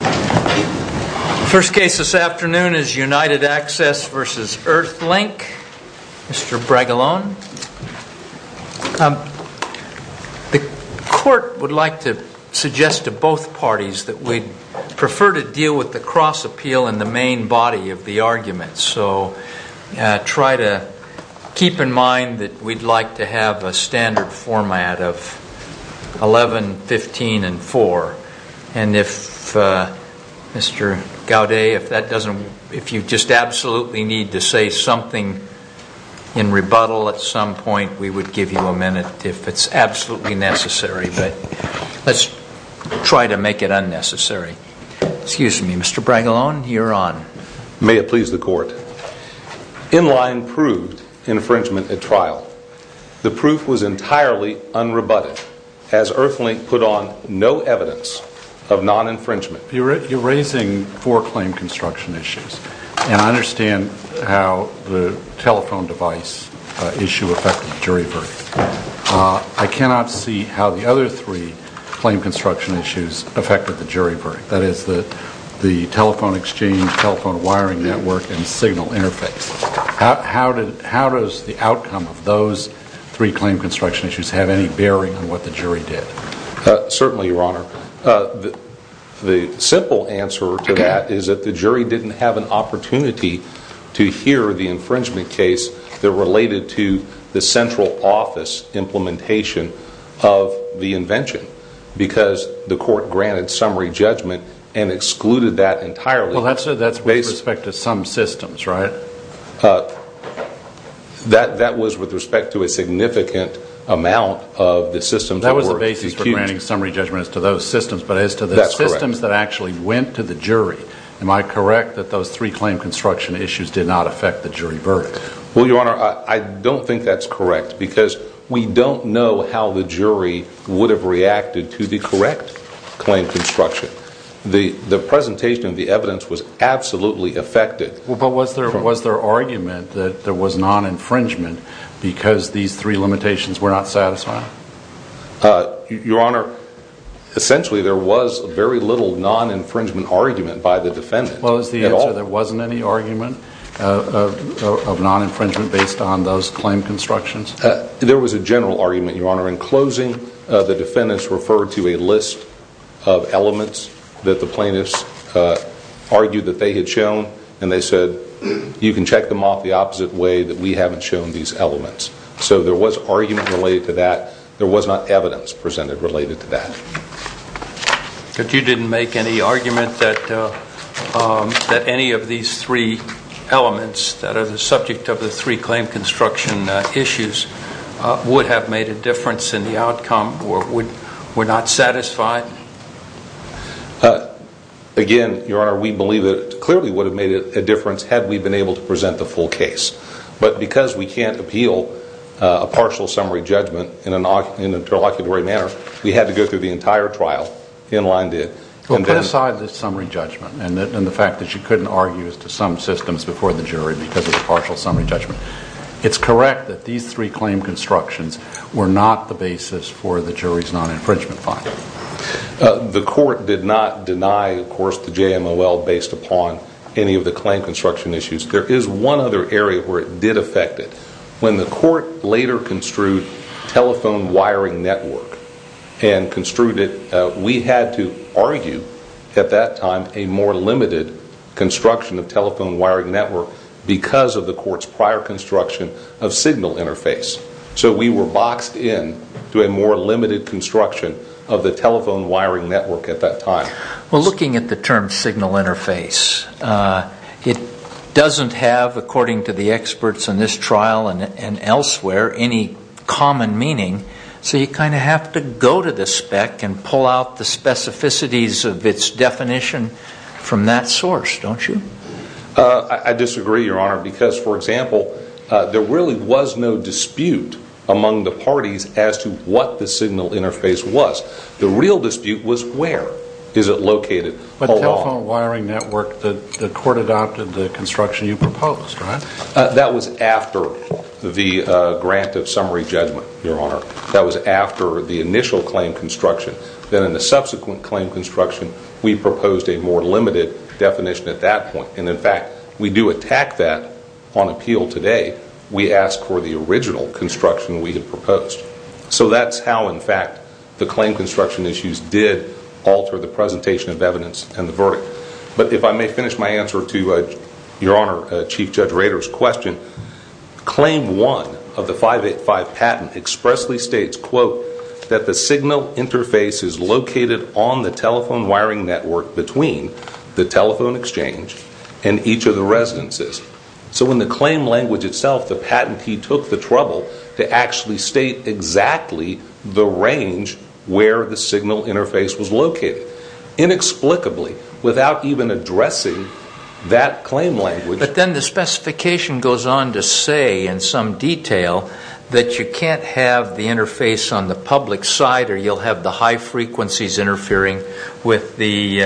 The first case this afternoon is UNITED ACCESS v. EARTHLINK. Mr. Bregolone. The court would like to suggest to both parties that we'd prefer to deal with the cross appeal in the main body of the argument. So try to keep in mind that we'd like to have a standard format of 11, 15, and 4. And if Mr. Gaudet, if you just absolutely need to say something in rebuttal at some point, we would give you a minute if it's absolutely necessary. But let's try to make it unnecessary. Excuse me, Mr. Bregolone, you're on. May it please the court. In line proved infringement at trial. The proof was entirely unrebutted as EARTHLINK put on no evidence of non-infringement. You're raising four claim construction issues. And I understand how the telephone device issue affected jury verdict. I cannot see how the other three claim construction issues affected the jury verdict. That is the telephone exchange, telephone wiring network, and signal interface. How does the outcome of those three claim construction issues have any bearing on what the jury did? Certainly, Your Honor. The simple answer to that is that the jury didn't have an opportunity to hear the infringement case that related to the central office implementation of the invention. Because the court granted summary judgment and excluded that entirely. Well, that's with respect to some systems, right? That was with respect to a significant amount of the systems. That was the basis for granting summary judgment as to those systems. But as to the systems that actually went to the jury, am I correct that those three claim construction issues did not affect the jury verdict? Well, Your Honor, I don't think that's correct. Because we don't know how the jury would have reacted to the correct claim construction. The presentation of the evidence was absolutely affected. But was there argument that there was non-infringement because these three limitations were not satisfied? Your Honor, essentially there was very little non-infringement argument by the defendant. Well, is the answer there wasn't any argument of non-infringement based on those claim constructions? There was a general argument, Your Honor. In closing, the defendants referred to a list of elements that the plaintiffs argued that they had shown. And they said, you can check them off the opposite way that we haven't shown these elements. So there was argument related to that. There was not evidence presented related to that. But you didn't make any argument that any of these three elements that are the subject of the three claim construction issues would have made a difference in the outcome or were not satisfied? Again, Your Honor, we believe it clearly would have made a difference had we been able to present the full case. But because we can't appeal a partial summary judgment in an interlocutory manner, we had to go through the entire trial. In line did. Well, put aside the summary judgment and the fact that you couldn't argue as to some systems before the jury because of the partial summary judgment. It's correct that these three claim constructions were not the basis for the jury's non-infringement finding. The court did not deny, of course, the JMOL based upon any of the claim construction issues. There is one other area where it did affect it. When the court later construed telephone wiring network and construed it, we had to argue at that time a more limited construction of telephone wiring network because of the court's prior construction of signal interface. So we were boxed in to a more limited construction of the telephone wiring network at that time. Well, looking at the term signal interface, it doesn't have, according to the experts in this trial and elsewhere, any common meaning. So you kind of have to go to the spec and pull out the specificities of its definition from that source, don't you? I disagree, Your Honor, because, for example, there really was no dispute among the parties as to what the signal interface was. The real dispute was where is it located? But telephone wiring network, the court adopted the construction you proposed, right? That was after the grant of summary judgment, Your Honor. That was after the initial claim construction. Then in the subsequent claim construction, we proposed a more limited definition at that point. And, in fact, we do attack that on appeal today. We ask for the original construction we had proposed. So that's how, in fact, the claim construction issues did alter the presentation of evidence and the verdict. But if I may finish my answer to Your Honor, Chief Judge Rader's question, Claim 1 of the 585 patent expressly states, quote, that the signal interface is located on the telephone wiring network between the telephone exchange and each of the residences. So in the claim language itself, the patentee took the trouble to actually state exactly the range where the signal interface was located, inexplicably, without even addressing that claim language. But then the specification goes on to say in some detail that you can't have the interface on the public side or you'll have the high frequencies interfering with the,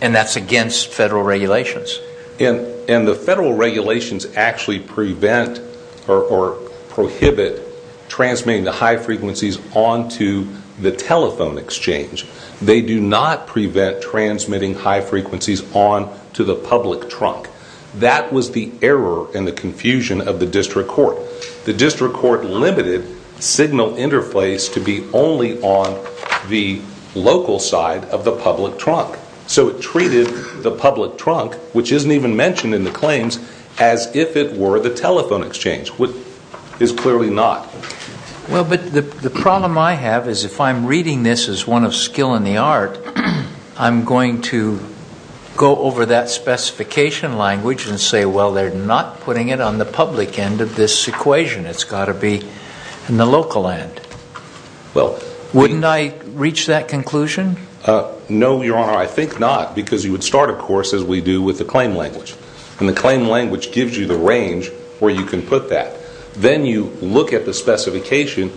and that's against federal regulations. And the federal regulations actually prevent or prohibit transmitting the high frequencies onto the telephone exchange. They do not prevent transmitting high frequencies onto the public trunk. That was the error and the confusion of the district court. The district court limited signal interface to be only on the local side of the public trunk. So it treated the public trunk, which isn't even mentioned in the claims, as if it were the telephone exchange, which is clearly not. Well, but the problem I have is if I'm reading this as one of skill in the art, I'm going to go over that specification language and say, well, they're not putting it on the public end of this equation. It's got to be in the local end. Wouldn't I reach that conclusion? No, Your Honor. I think not because you would start, of course, as we do with the claim language. And the claim language gives you the range where you can put that. Then you look at the specification,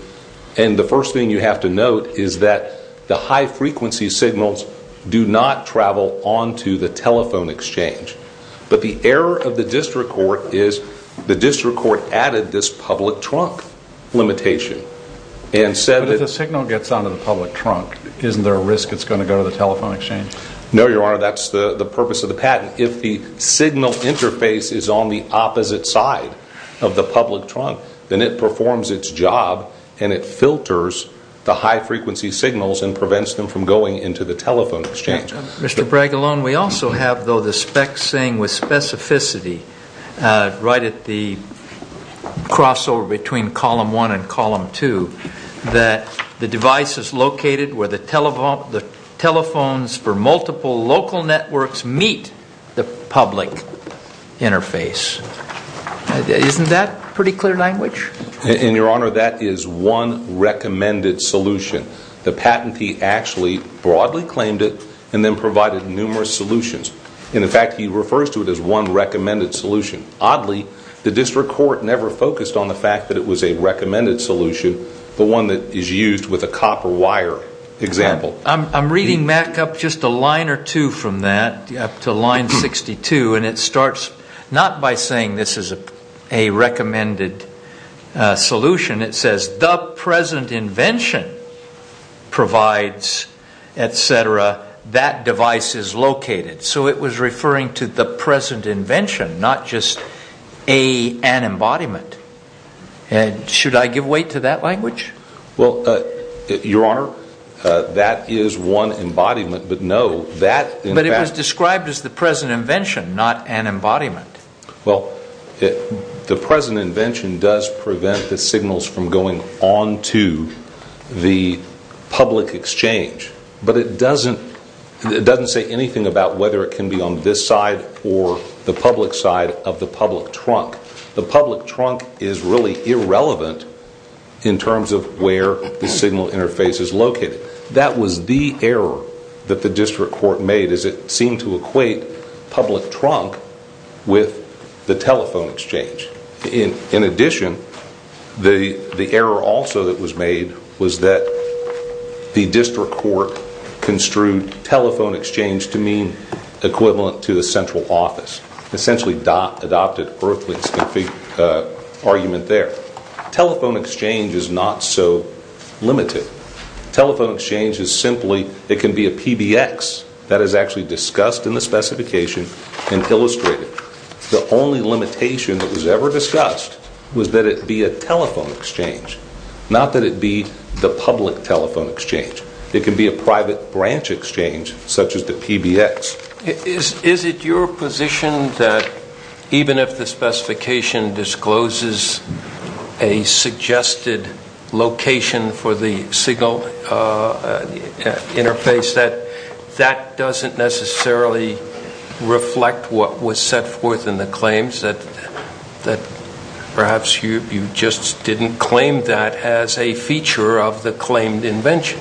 and the first thing you have to note is that the high frequency signals do not travel onto the telephone exchange. But the error of the district court is the district court added this public trunk limitation and said that- No, Your Honor. That's the purpose of the patent. If the signal interface is on the opposite side of the public trunk, then it performs its job, and it filters the high frequency signals and prevents them from going into the telephone exchange. Mr. Braggalone, we also have, though, the specs saying with specificity right at the crossover between column one and column two that the device is located where the telephones for multiple local networks meet the public interface. Isn't that pretty clear language? And, Your Honor, that is one recommended solution. The patentee actually broadly claimed it and then provided numerous solutions. In fact, he refers to it as one recommended solution. Oddly, the district court never focused on the fact that it was a recommended solution, but one that is used with a copper wire example. I'm reading back up just a line or two from that, up to line 62, and it starts not by saying this is a recommended solution. It says the present invention provides, et cetera, that device is located. So it was referring to the present invention, not just an embodiment. Should I give weight to that language? Well, Your Honor, that is one embodiment, but no, that... But it was described as the present invention, not an embodiment. Well, the present invention does prevent the signals from going on to the public exchange, but it doesn't say anything about whether it can be on this side or the public side of the public trunk. The public trunk is really irrelevant in terms of where the signal interface is located. That was the error that the district court made, as it seemed to equate public trunk with the telephone exchange. In addition, the error also that was made was that the district court construed telephone exchange to mean equivalent to the central office, essentially adopted Berkley's argument there. Telephone exchange is not so limited. Telephone exchange is simply, it can be a PBX. That is actually discussed in the specification and illustrated. The only limitation that was ever discussed was that it be a telephone exchange, not that it be the public telephone exchange. It can be a private branch exchange, such as the PBX. Is it your position that even if the specification discloses a suggested location for the signal interface, that that doesn't necessarily reflect what was set forth in the claims, that perhaps you just didn't claim that as a feature of the claimed invention?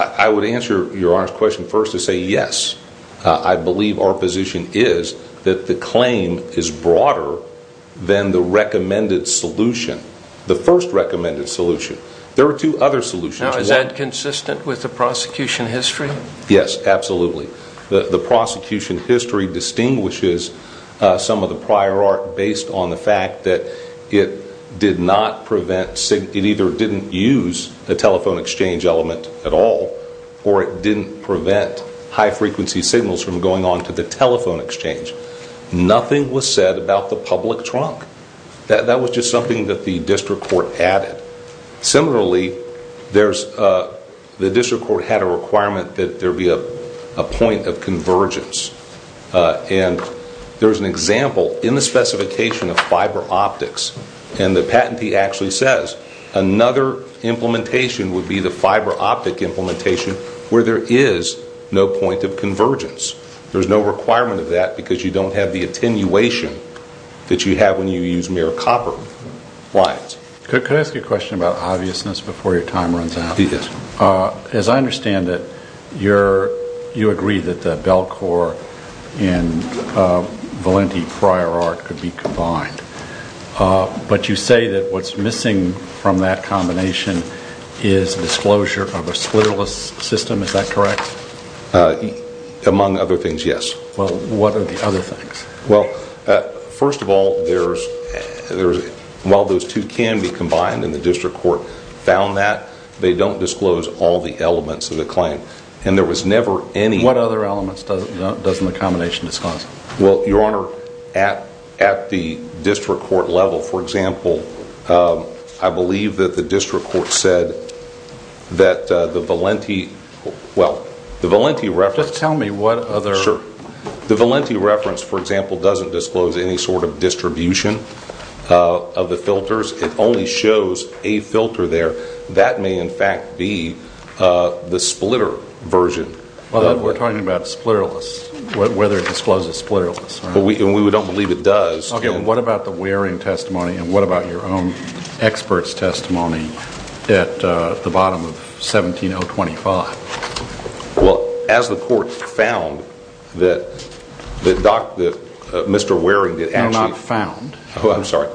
I would answer your honest question first and say yes. I believe our position is that the claim is broader than the recommended solution, the first recommended solution. There are two other solutions. Now, is that consistent with the prosecution history? Yes, absolutely. The prosecution history distinguishes some of the prior art based on the fact that it did not prevent, it either didn't use the telephone exchange element at all, or it didn't prevent high frequency signals from going on to the telephone exchange. Nothing was said about the public trunk. That was just something that the district court added. Similarly, the district court had a requirement that there be a point of convergence. There's an example in the specification of fiber optics, and the patentee actually says another implementation would be the fiber optic implementation where there is no point of convergence. There's no requirement of that because you don't have the attenuation that you have when you use mere copper lines. Could I ask you a question about obviousness before your time runs out? Yes. As I understand it, you agree that the Bellcore and Valenti prior art could be combined, but you say that what's missing from that combination is disclosure of a splitterless system. Is that correct? Among other things, yes. Well, what are the other things? First of all, while those two can be combined and the district court found that, they don't disclose all the elements of the claim. What other elements doesn't the combination disclose? Well, Your Honor, at the district court level, for example, I believe that the district court said that the Valenti reference Just tell me what other Valenti reference, for example, doesn't disclose any sort of distribution of the filters. It only shows a filter there. That may, in fact, be the splitter version. We're talking about splitterless, whether it discloses splitterless. We don't believe it does. What about the wearing testimony and what about your own expert's testimony at the bottom of 17-025? Well, as the court found that Mr. Waring did actually No, not found. Oh, I'm sorry.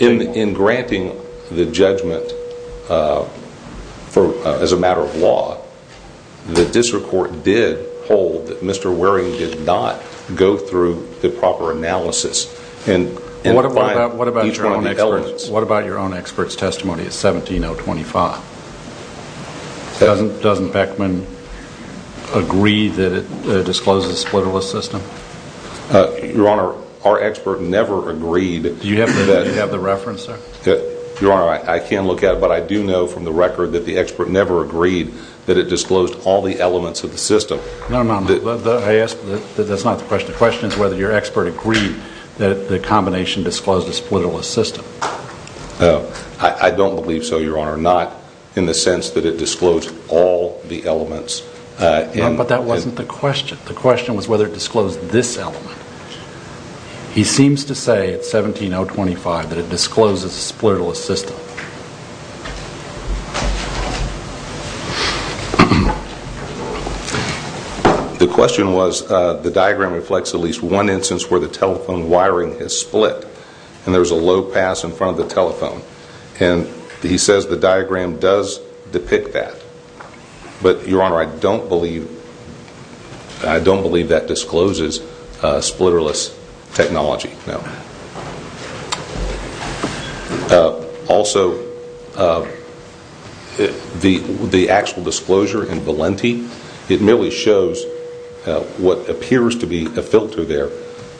In granting the judgment as a matter of law, the district court did hold that Mr. Waring did not go through the proper analysis What about your own expert's testimony at 17-025? Doesn't Beckman agree that it discloses splitterless system? Your Honor, our expert never agreed Do you have the reference, sir? Your Honor, I can't look at it, but I do know from the record that the expert never agreed that it disclosed all the elements of the system. No, no, no. I ask, that's not the question. The question is whether your expert agreed that the combination disclosed a splitterless system. I don't believe so, Your Honor. Not in the sense that it disclosed all the elements. No, but that wasn't the question. The question was whether it disclosed this element. He seems to say at 17-025 that it discloses a splitterless system. The question was, the diagram reflects at least one instance where the telephone wiring is split and there's a low pass in front of the telephone. And he says the diagram does depict that. But, Your Honor, I don't believe that discloses splitterless technology, no. Also, the actual disclosure in Valenti, it merely shows what appears to be a filter there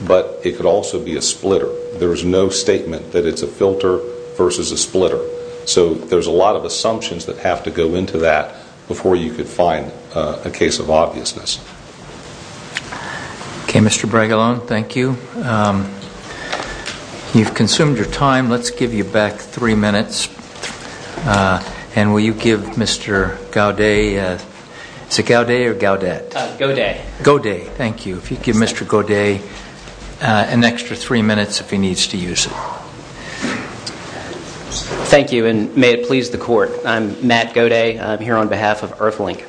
but it could also be a splitter. There is no statement that it's a filter versus a splitter. So there's a lot of assumptions that have to go into that before you could find a case of obviousness. Okay, Mr. Bregolone, thank you. You've consumed your time. Let's give you back three minutes. And will you give Mr. Gaudet, is it Gaudet or Gaudet? Gaudet. Gaudet, thank you. If you could give Mr. Gaudet an extra three minutes if he needs to use it. Thank you, and may it please the Court. I'm Matt Gaudet. I'm here on behalf of Earthlink.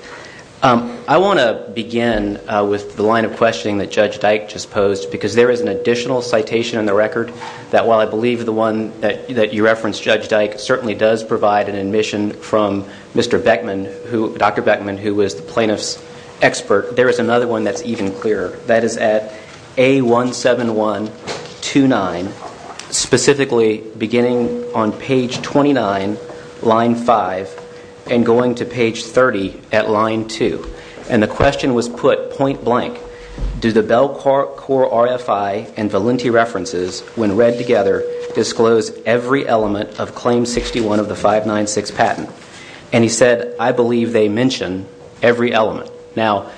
I want to begin with the line of questioning that Judge Dyke just posed because there is an additional citation in the record that, while I believe the one that you referenced, Judge Dyke, certainly does provide an admission from Mr. Beckman, Dr. Beckman, who was the plaintiff's expert, there is another one that's even clearer. That is at A17129, specifically beginning on page 29, line 5, and going to page 30 at line 2. And the question was put point blank. Do the Bellcore RFI and Valenti references, when read together, disclose every element of claim 61 of the 596 patent? And he said, I believe they mention every element. Now,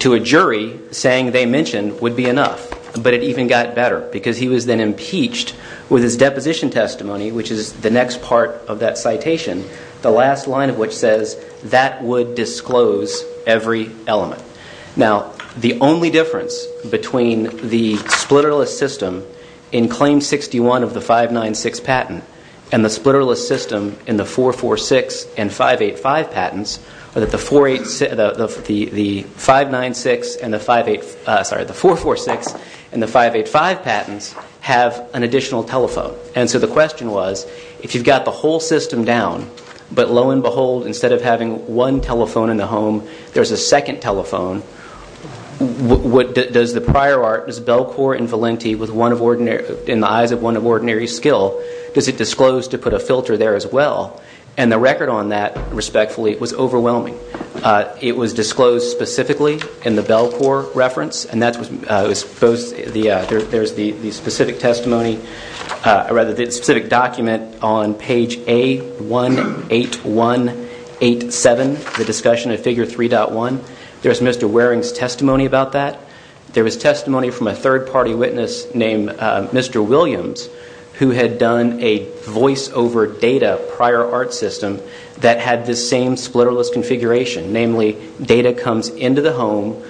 to a jury, saying they mention would be enough, but it even got better because he was then impeached with his deposition testimony, which is the next part of that citation, the last line of which says, that would disclose every element. Now, the only difference between the splitterless system in claim 61 of the 596 patent and the splitterless system in the 446 and 585 patents are that the 446 and the 585 patents have an additional telephone. And so the question was, if you've got the whole system down, but lo and behold, instead of having one telephone in the home, there's a second telephone, does the prior art, what is Bellcore and Valenti in the eyes of one of ordinary skill, does it disclose to put a filter there as well? And the record on that, respectfully, was overwhelming. It was disclosed specifically in the Bellcore reference, and there's the specific document on page A18187, the discussion of figure 3.1. There's Mr. Waring's testimony about that. There was testimony from a third-party witness named Mr. Williams, who had done a voice-over data prior art system that had this same splitterless configuration, namely data comes into the home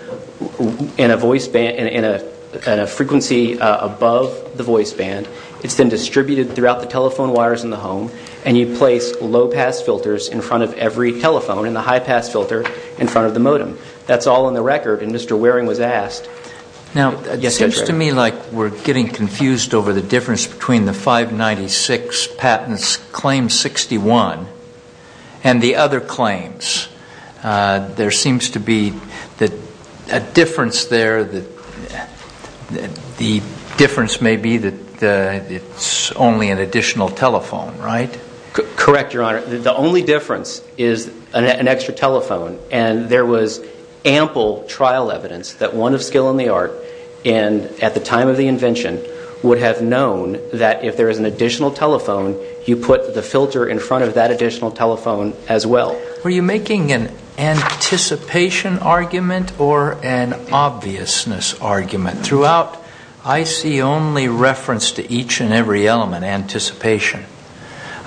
in a frequency above the voice band. It's then distributed throughout the telephone wires in the home, and you place low-pass filters in front of every telephone and the high-pass filter in front of the modem. That's all in the record, and Mr. Waring was asked. Now, it seems to me like we're getting confused over the difference between the 596 patents claim 61 and the other claims. There seems to be a difference there. The difference may be that it's only an additional telephone, right? Correct, Your Honor. The only difference is an extra telephone, and there was ample trial evidence that one of skill in the art and at the time of the invention would have known that if there is an additional telephone, you put the filter in front of that additional telephone as well. Were you making an anticipation argument or an obviousness argument? Throughout, I see only reference to each and every element, anticipation.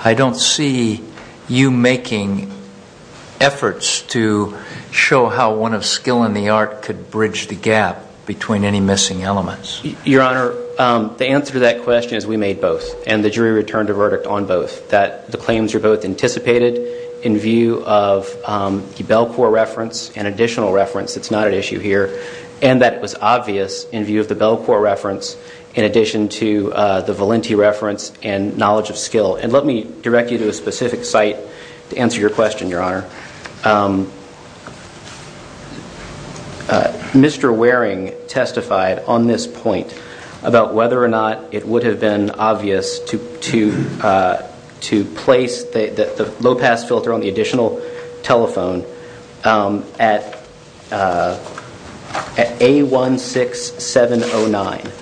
I don't see you making efforts to show how one of skill in the art could bridge the gap between any missing elements. Your Honor, the answer to that question is we made both, and the jury returned a verdict on both, that the claims were both anticipated in view of the Bellcore reference and additional reference. It's not an issue here. And that it was obvious in view of the Bellcore reference in addition to the Valenti reference and knowledge of skill. And let me direct you to a specific site to answer your question, Your Honor. Mr. Waring testified on this point about whether or not it would have been obvious to place the low pass filter on the additional telephone at A16709.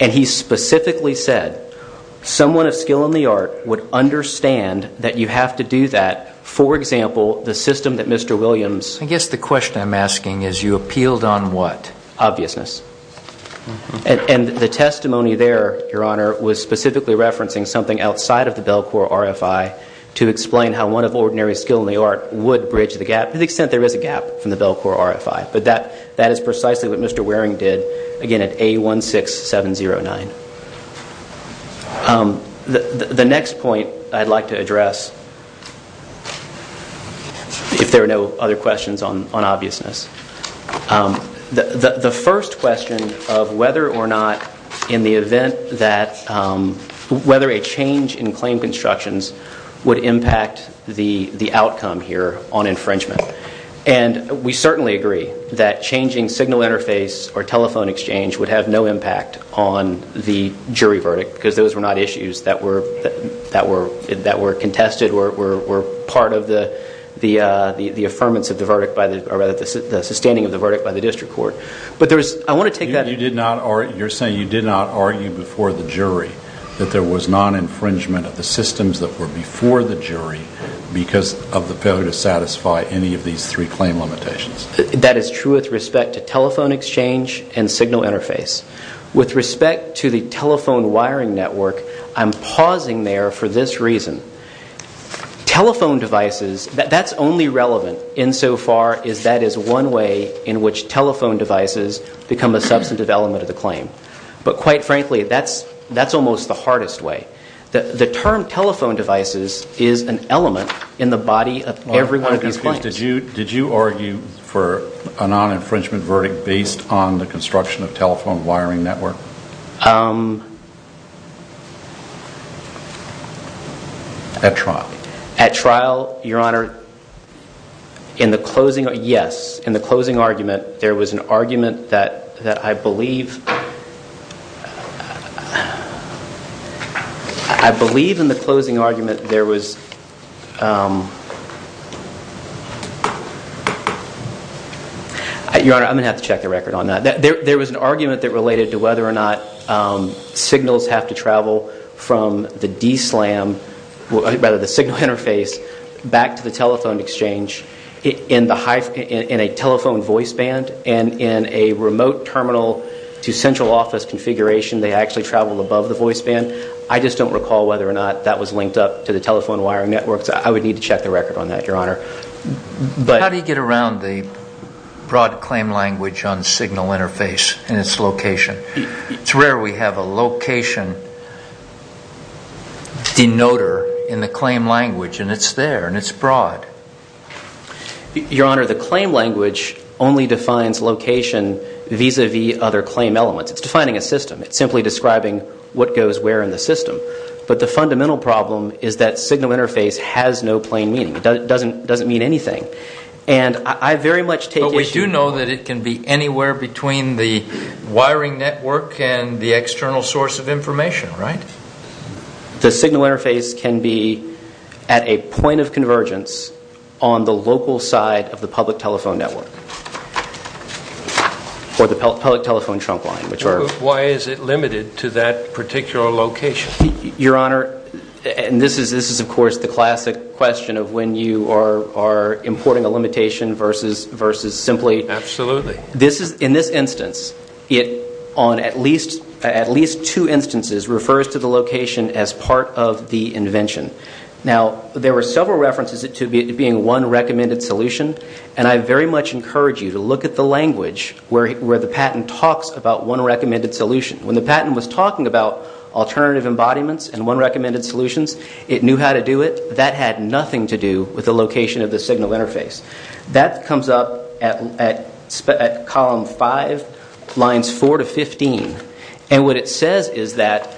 And he specifically said someone of skill in the art would understand that you have to do that, for example, the system that Mr. Williams... I guess the question I'm asking is you appealed on what? Obviousness. And the testimony there, Your Honor, was specifically referencing something outside of the Bellcore RFI to explain how one of ordinary skill in the art would bridge the gap to the extent there is a gap from the Bellcore RFI. But that is precisely what Mr. Waring did, again, at A16709. The next point I'd like to address, if there are no other questions on obviousness. The first question of whether or not in the event that... whether a change in claim constructions would impact the outcome here on infringement. And we certainly agree that changing signal interface or telephone exchange would have no impact on the jury verdict because those were not issues that were contested or were part of the affirmance of the verdict by the... or rather the sustaining of the verdict by the district court. But there was... I want to take that... You're saying you did not argue before the jury that there was non-infringement of the systems that were before the jury because of the failure to satisfy any of these three claim limitations. That is true with respect to telephone exchange and signal interface. With respect to the telephone wiring network, I'm pausing there for this reason. Telephone devices, that's only relevant insofar as that is one way in which telephone devices become a substantive element of the claim. But quite frankly, that's almost the hardest way. The term telephone devices is an element in the body of every one of these claims. Did you argue for a non-infringement verdict based on the construction of telephone wiring network? At trial. At trial, Your Honor, in the closing... Yes, in the closing argument, there was an argument that I believe... I believe in the closing argument there was... Your Honor, I'm going to have to check the record on that. There was an argument that related to whether or not signals have to travel from the DSLAM, rather the signal interface, back to the telephone exchange in a telephone voice band and in a remote terminal to central office configuration. They actually travel above the voice band. I just don't recall whether or not that was linked up to the telephone wiring networks. I would need to check the record on that, Your Honor. How do you get around the broad claim language on signal interface and its location? It's rare we have a location denoter in the claim language and it's there and it's broad. Your Honor, the claim language only defines location vis-à-vis other claim elements. It's defining a system. It's simply describing what goes where in the system. But the fundamental problem is that signal interface has no plain meaning. It doesn't mean anything. And I very much take issue... But we do know that it can be anywhere between the wiring network and the external source of information, right? The signal interface can be at a point of convergence on the local side of the public telephone network or the public telephone trunk line, which are... Why is it limited to that particular location? Your Honor, and this is, of course, the classic question of when you are importing a limitation versus simply... Absolutely. In this instance, it, on at least two instances, refers to the location as part of the invention. Now, there were several references to it being one recommended solution and I very much encourage you to look at the language where the patent talks about one recommended solution. When the patent was talking about alternative embodiments and one recommended solutions, it knew how to do it. That had nothing to do with the location of the signal interface. That comes up at column 5, lines 4 to 15. And what it says is that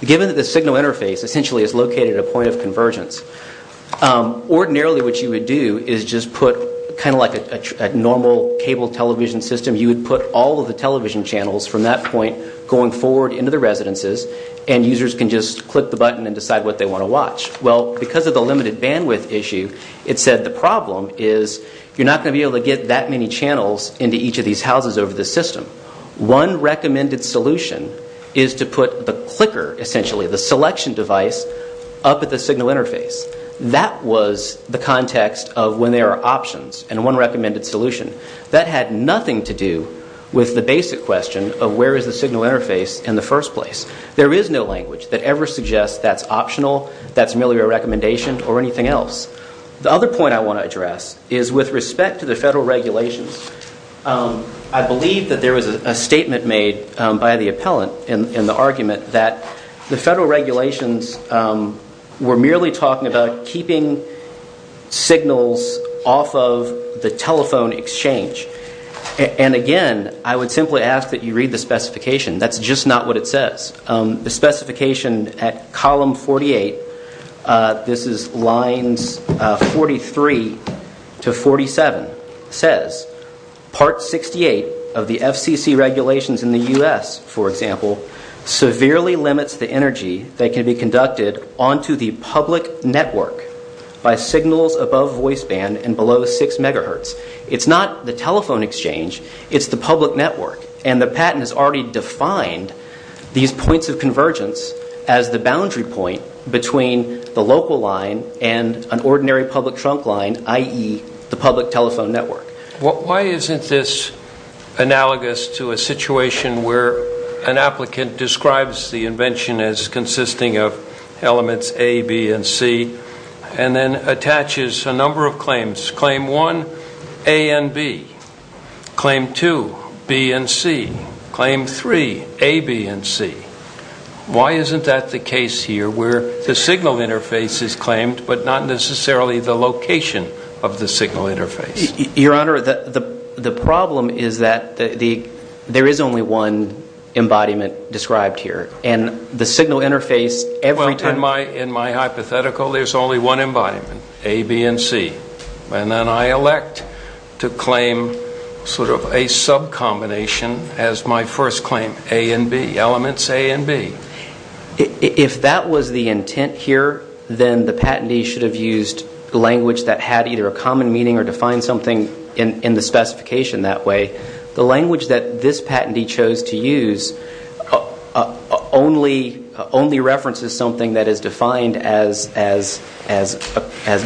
given that the signal interface essentially is located at a point of convergence, ordinarily what you would do is just put, kind of like a normal cable television system, you would put all of the television channels from that point going forward into the residences and users can just click the button and decide what they want to watch. Well, because of the limited bandwidth issue, it said the problem is you're not going to be able to get that many channels into each of these houses over the system. One recommended solution is to put the clicker, essentially the selection device, up at the signal interface. That was the context of when there are options and one recommended solution. That had nothing to do with the basic question of where is the signal interface in the first place. There is no language that ever suggests that's optional, that's merely a recommendation or anything else. The other point I want to address is with respect to the federal regulations, I believe that there was a statement made by the appellant in the argument that the federal regulations were merely talking about keeping signals off of the telephone exchange. And again, I would simply ask that you read the specification. That's just not what it says. The specification at column 48, this is lines 43 to 47, says, Part 68 of the FCC regulations in the U.S., for example, severely limits the energy that can be conducted onto the public network by signals above voice band and below 6 megahertz. It's not the telephone exchange, it's the public network, and the patent has already defined these points of convergence as the boundary point between the local line and an ordinary public trunk line, i.e., the public telephone network. Why isn't this analogous to a situation where an applicant describes the invention as consisting of elements A, B, and C, and then attaches a number of claims, claim 1, A and B, claim 2, B and C, claim 3, A, B, and C? Why isn't that the case here where the signal interface is claimed but not necessarily the location of the signal interface? Your Honor, the problem is that there is only one embodiment described here, and the signal interface every time- In my hypothetical, there's only one embodiment, A, B, and C, and then I elect to claim sort of a sub-combination as my first claim, A and B, elements A and B. If that was the intent here, then the patentee should have used language that had either a common meaning or defined something in the specification that way. The language that this patentee chose to use only references something that is defined as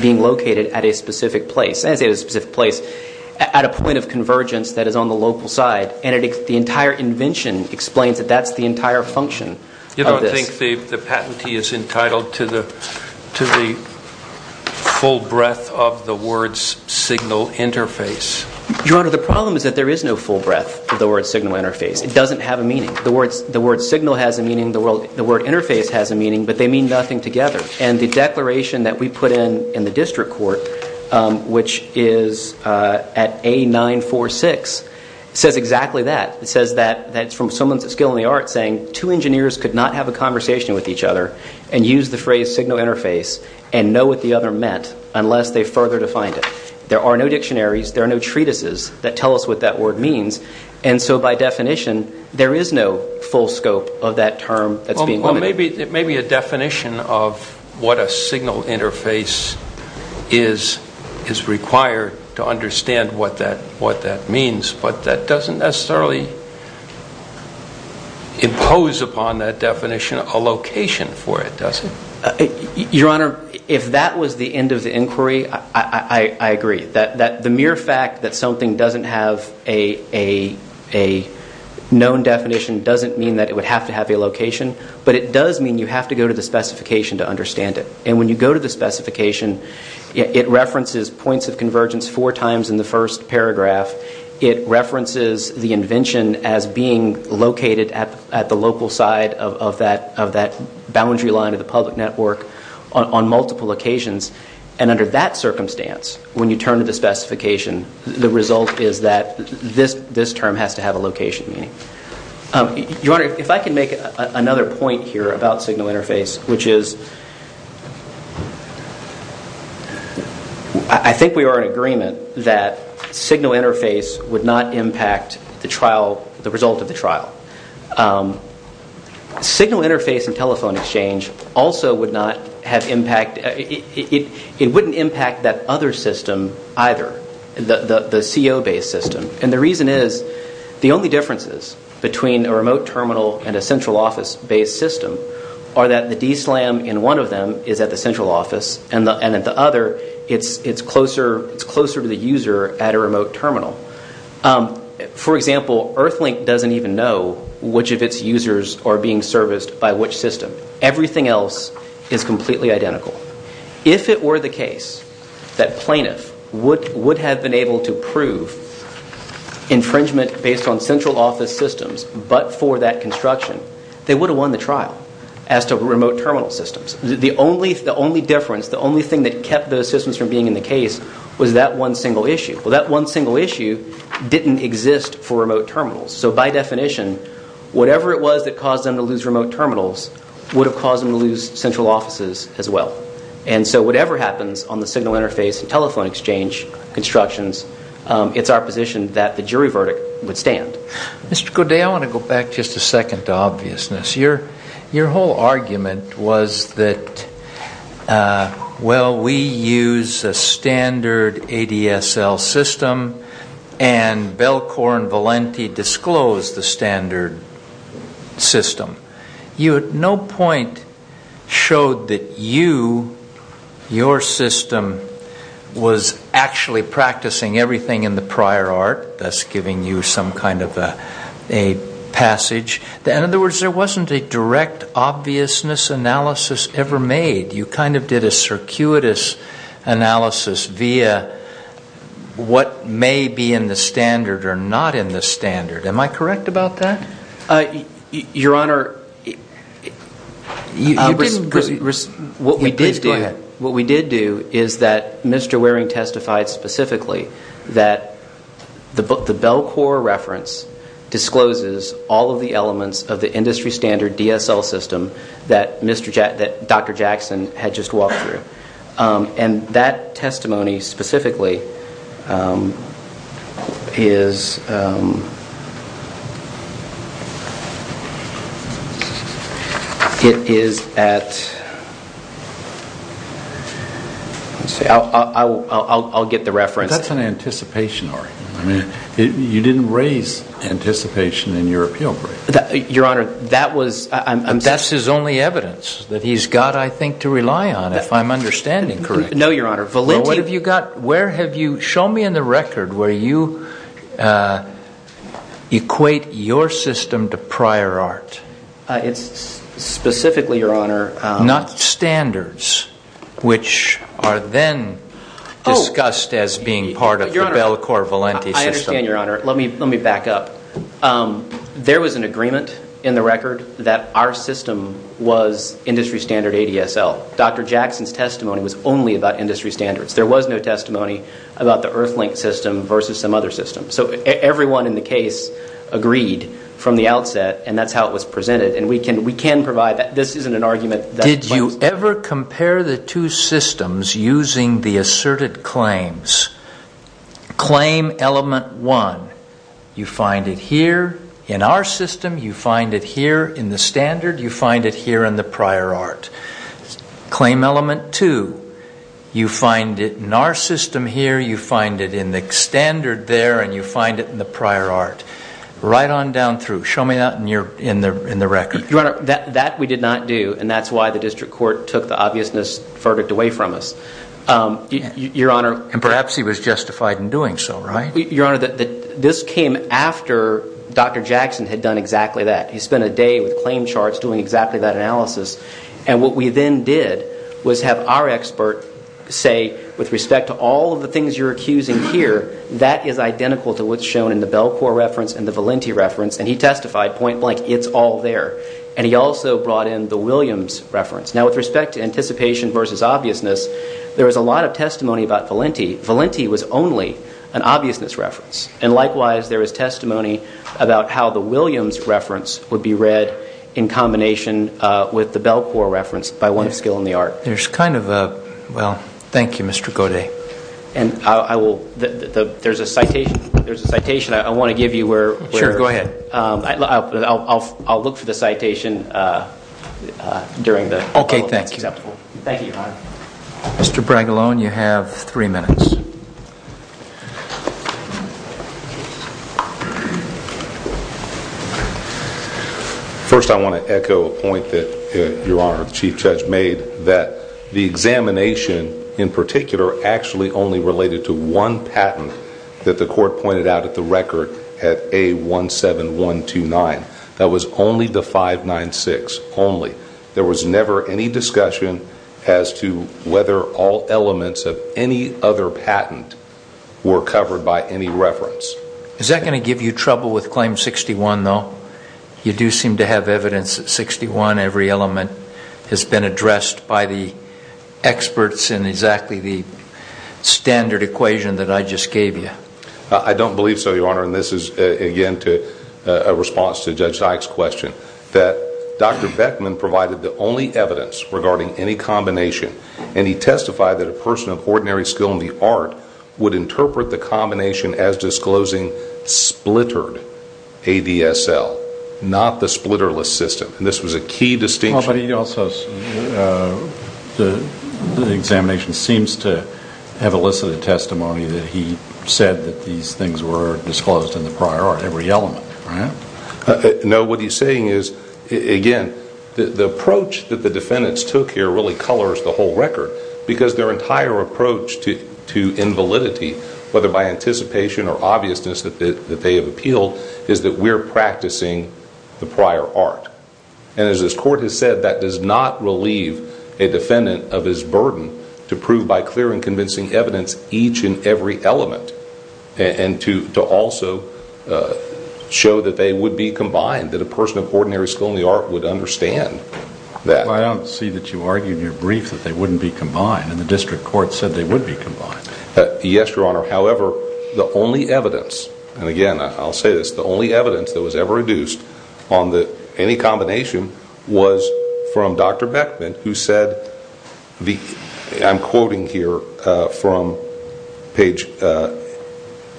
being located at a specific place, at a point of convergence that is on the local side, and the entire invention explains that that's the entire function of this. You don't think the patentee is entitled to the full breadth of the word's signal interface? Your Honor, the problem is that there is no full breadth of the word's signal interface. It doesn't have a meaning. The word signal has a meaning. The word interface has a meaning, but they mean nothing together, and the declaration that we put in in the district court, which is at A946, says exactly that. It says that that's from someone's skill in the art saying two engineers could not have a conversation with each other and use the phrase signal interface and know what the other meant unless they further defined it. There are no dictionaries. There are no treatises that tell us what that word means, and so by definition there is no full scope of that term that's being limited. Well, it may be a definition of what a signal interface is required to understand what that means, but that doesn't necessarily impose upon that definition a location for it, does it? Your Honor, if that was the end of the inquiry, I agree. The mere fact that something doesn't have a known definition doesn't mean that it would have to have a location, but it does mean you have to go to the specification to understand it, and when you go to the specification, it references points of convergence four times in the first paragraph. It references the invention as being located at the local side of that boundary line of the public network on multiple occasions, and under that circumstance, when you turn to the specification, the result is that this term has to have a location meaning. Your Honor, if I can make another point here about signal interface, which is I think we are in agreement that signal interface would not impact the result of the trial. Signal interface and telephone exchange also would not have impact. It wouldn't impact that other system either, the CO-based system, and the reason is the only differences between a remote terminal and a central office-based system are that the DSLAM in one of them is at the central office, and at the other, it's closer to the user at a remote terminal. For example, Earthlink doesn't even know which of its users are being serviced by which system. Everything else is completely identical. If it were the case that plaintiff would have been able to prove infringement based on central office systems, but for that construction, they would have won the trial as to remote terminal systems. The only difference, the only thing that kept those systems from being in the case was that one single issue. Well, that one single issue didn't exist for remote terminals, so by definition, whatever it was that caused them to lose remote terminals would have caused them to lose central offices as well, and so whatever happens on the signal interface and telephone exchange constructions, it's our position that the jury verdict would stand. Mr. Godet, I want to go back just a second to obviousness. Your whole argument was that, well, we use a standard ADSL system, and Belcour and Valenti disclosed the standard system. You at no point showed that you, your system, was actually practicing everything in the prior art, thus giving you some kind of a passage. In other words, there wasn't a direct obviousness analysis ever made. You kind of did a circuitous analysis via what may be in the standard or not in the standard. Am I correct about that? Your Honor, what we did do is that Mr. Waring testified specifically that the Belcour reference discloses all of the elements of the industry standard DSL system that Dr. Jackson had just walked through, and that testimony specifically is at, I'll get the reference. That's an anticipation argument. You didn't raise anticipation in your appeal brief. That's his only evidence that he's got, I think, to rely on, if I'm understanding correctly. No, Your Honor. Show me in the record where you equate your system to prior art. It's specifically, Your Honor. Not standards, which are then discussed as being part of the Belcour-Valenti system. I understand, Your Honor. Let me back up. There was an agreement in the record that our system was industry standard ADSL. Dr. Jackson's testimony was only about industry standards. There was no testimony about the Earthlink system versus some other system. So everyone in the case agreed from the outset, and that's how it was presented. And we can provide that. This isn't an argument. Did you ever compare the two systems using the asserted claims? Claim element one, you find it here in our system. You find it here in the standard. You find it here in the prior art. Claim element two, you find it in our system here. You find it in the standard there, and you find it in the prior art. Right on down through. Show me that in the record. Your Honor, that we did not do, and that's why the district court took the obviousness verdict away from us. And perhaps he was justified in doing so, right? Your Honor, this came after Dr. Jackson had done exactly that. He spent a day with claim charts doing exactly that analysis. And what we then did was have our expert say, with respect to all of the things you're accusing here, that is identical to what's shown in the Belcourt reference and the Valenti reference. And he testified point blank, it's all there. And he also brought in the Williams reference. Now, with respect to anticipation versus obviousness, there was a lot of testimony about Valenti. Valenti was only an obviousness reference. And likewise, there was testimony about how the Williams reference would be read in combination with the Belcourt reference by one skill in the art. There's kind of a, well, thank you, Mr. Godet. And I will, there's a citation I want to give you where. Sure, go ahead. I'll look for the citation during the. Okay, thank you. Thank you, Your Honor. Mr. Bragalone, you have three minutes. First, I want to echo a point that Your Honor, the Chief Judge made, that the examination in particular actually only related to one patent that the court pointed out at the record at A17129. That was only the 596, only. There was never any discussion as to whether all elements of any other patent were covered by any reference. Is that going to give you trouble with Claim 61, though? You do seem to have evidence that 61, every element, has been addressed by the experts in exactly the standard equation that I just gave you. I don't believe so, Your Honor. And this is, again, a response to Judge Dyke's question. That Dr. Beckman provided the only evidence regarding any combination, and he testified that a person of ordinary skill in the art would interpret the combination as disclosing splittered ADSL, not the splitterless system. And this was a key distinction. But he also, the examination seems to have elicited testimony that he said that these things were disclosed in the prior art, every element, right? No, what he's saying is, again, the approach that the defendants took here really colors the whole record because their entire approach to invalidity, whether by anticipation or obviousness that they have appealed, is that we're practicing the prior art. And as this court has said, that does not relieve a defendant of his burden to prove by clear and convincing evidence each and every element and to also show that they would be combined, that a person of ordinary skill in the art would understand that. Well, I don't see that you argued in your brief that they wouldn't be combined, and the district court said they would be combined. Yes, Your Honor. However, the only evidence, and again, I'll say this, the only evidence that was ever reduced on any combination was from Dr. Beckman, who said, I'm quoting here from page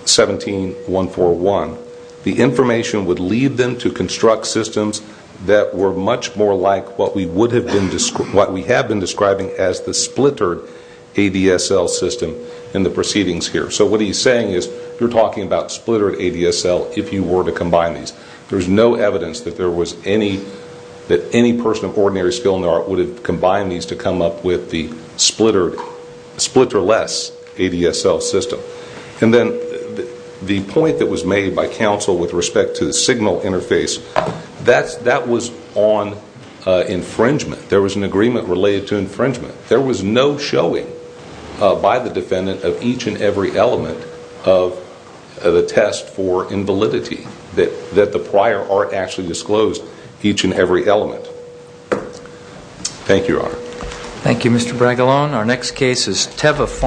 17141, would lead them to construct systems that were much more like what we have been describing as the splittered ADSL system in the proceedings here. So what he's saying is, you're talking about splittered ADSL if you were to combine these. There's no evidence that any person of ordinary skill in the art would have combined these to come up with the splitter-less ADSL system. And then the point that was made by counsel with respect to the signal interface, that was on infringement. There was an agreement related to infringement. There was no showing by the defendant of each and every element of the test for invalidity, that the prior art actually disclosed each and every element. Thank you, Your Honor. Thank you, Mr. Bragalone.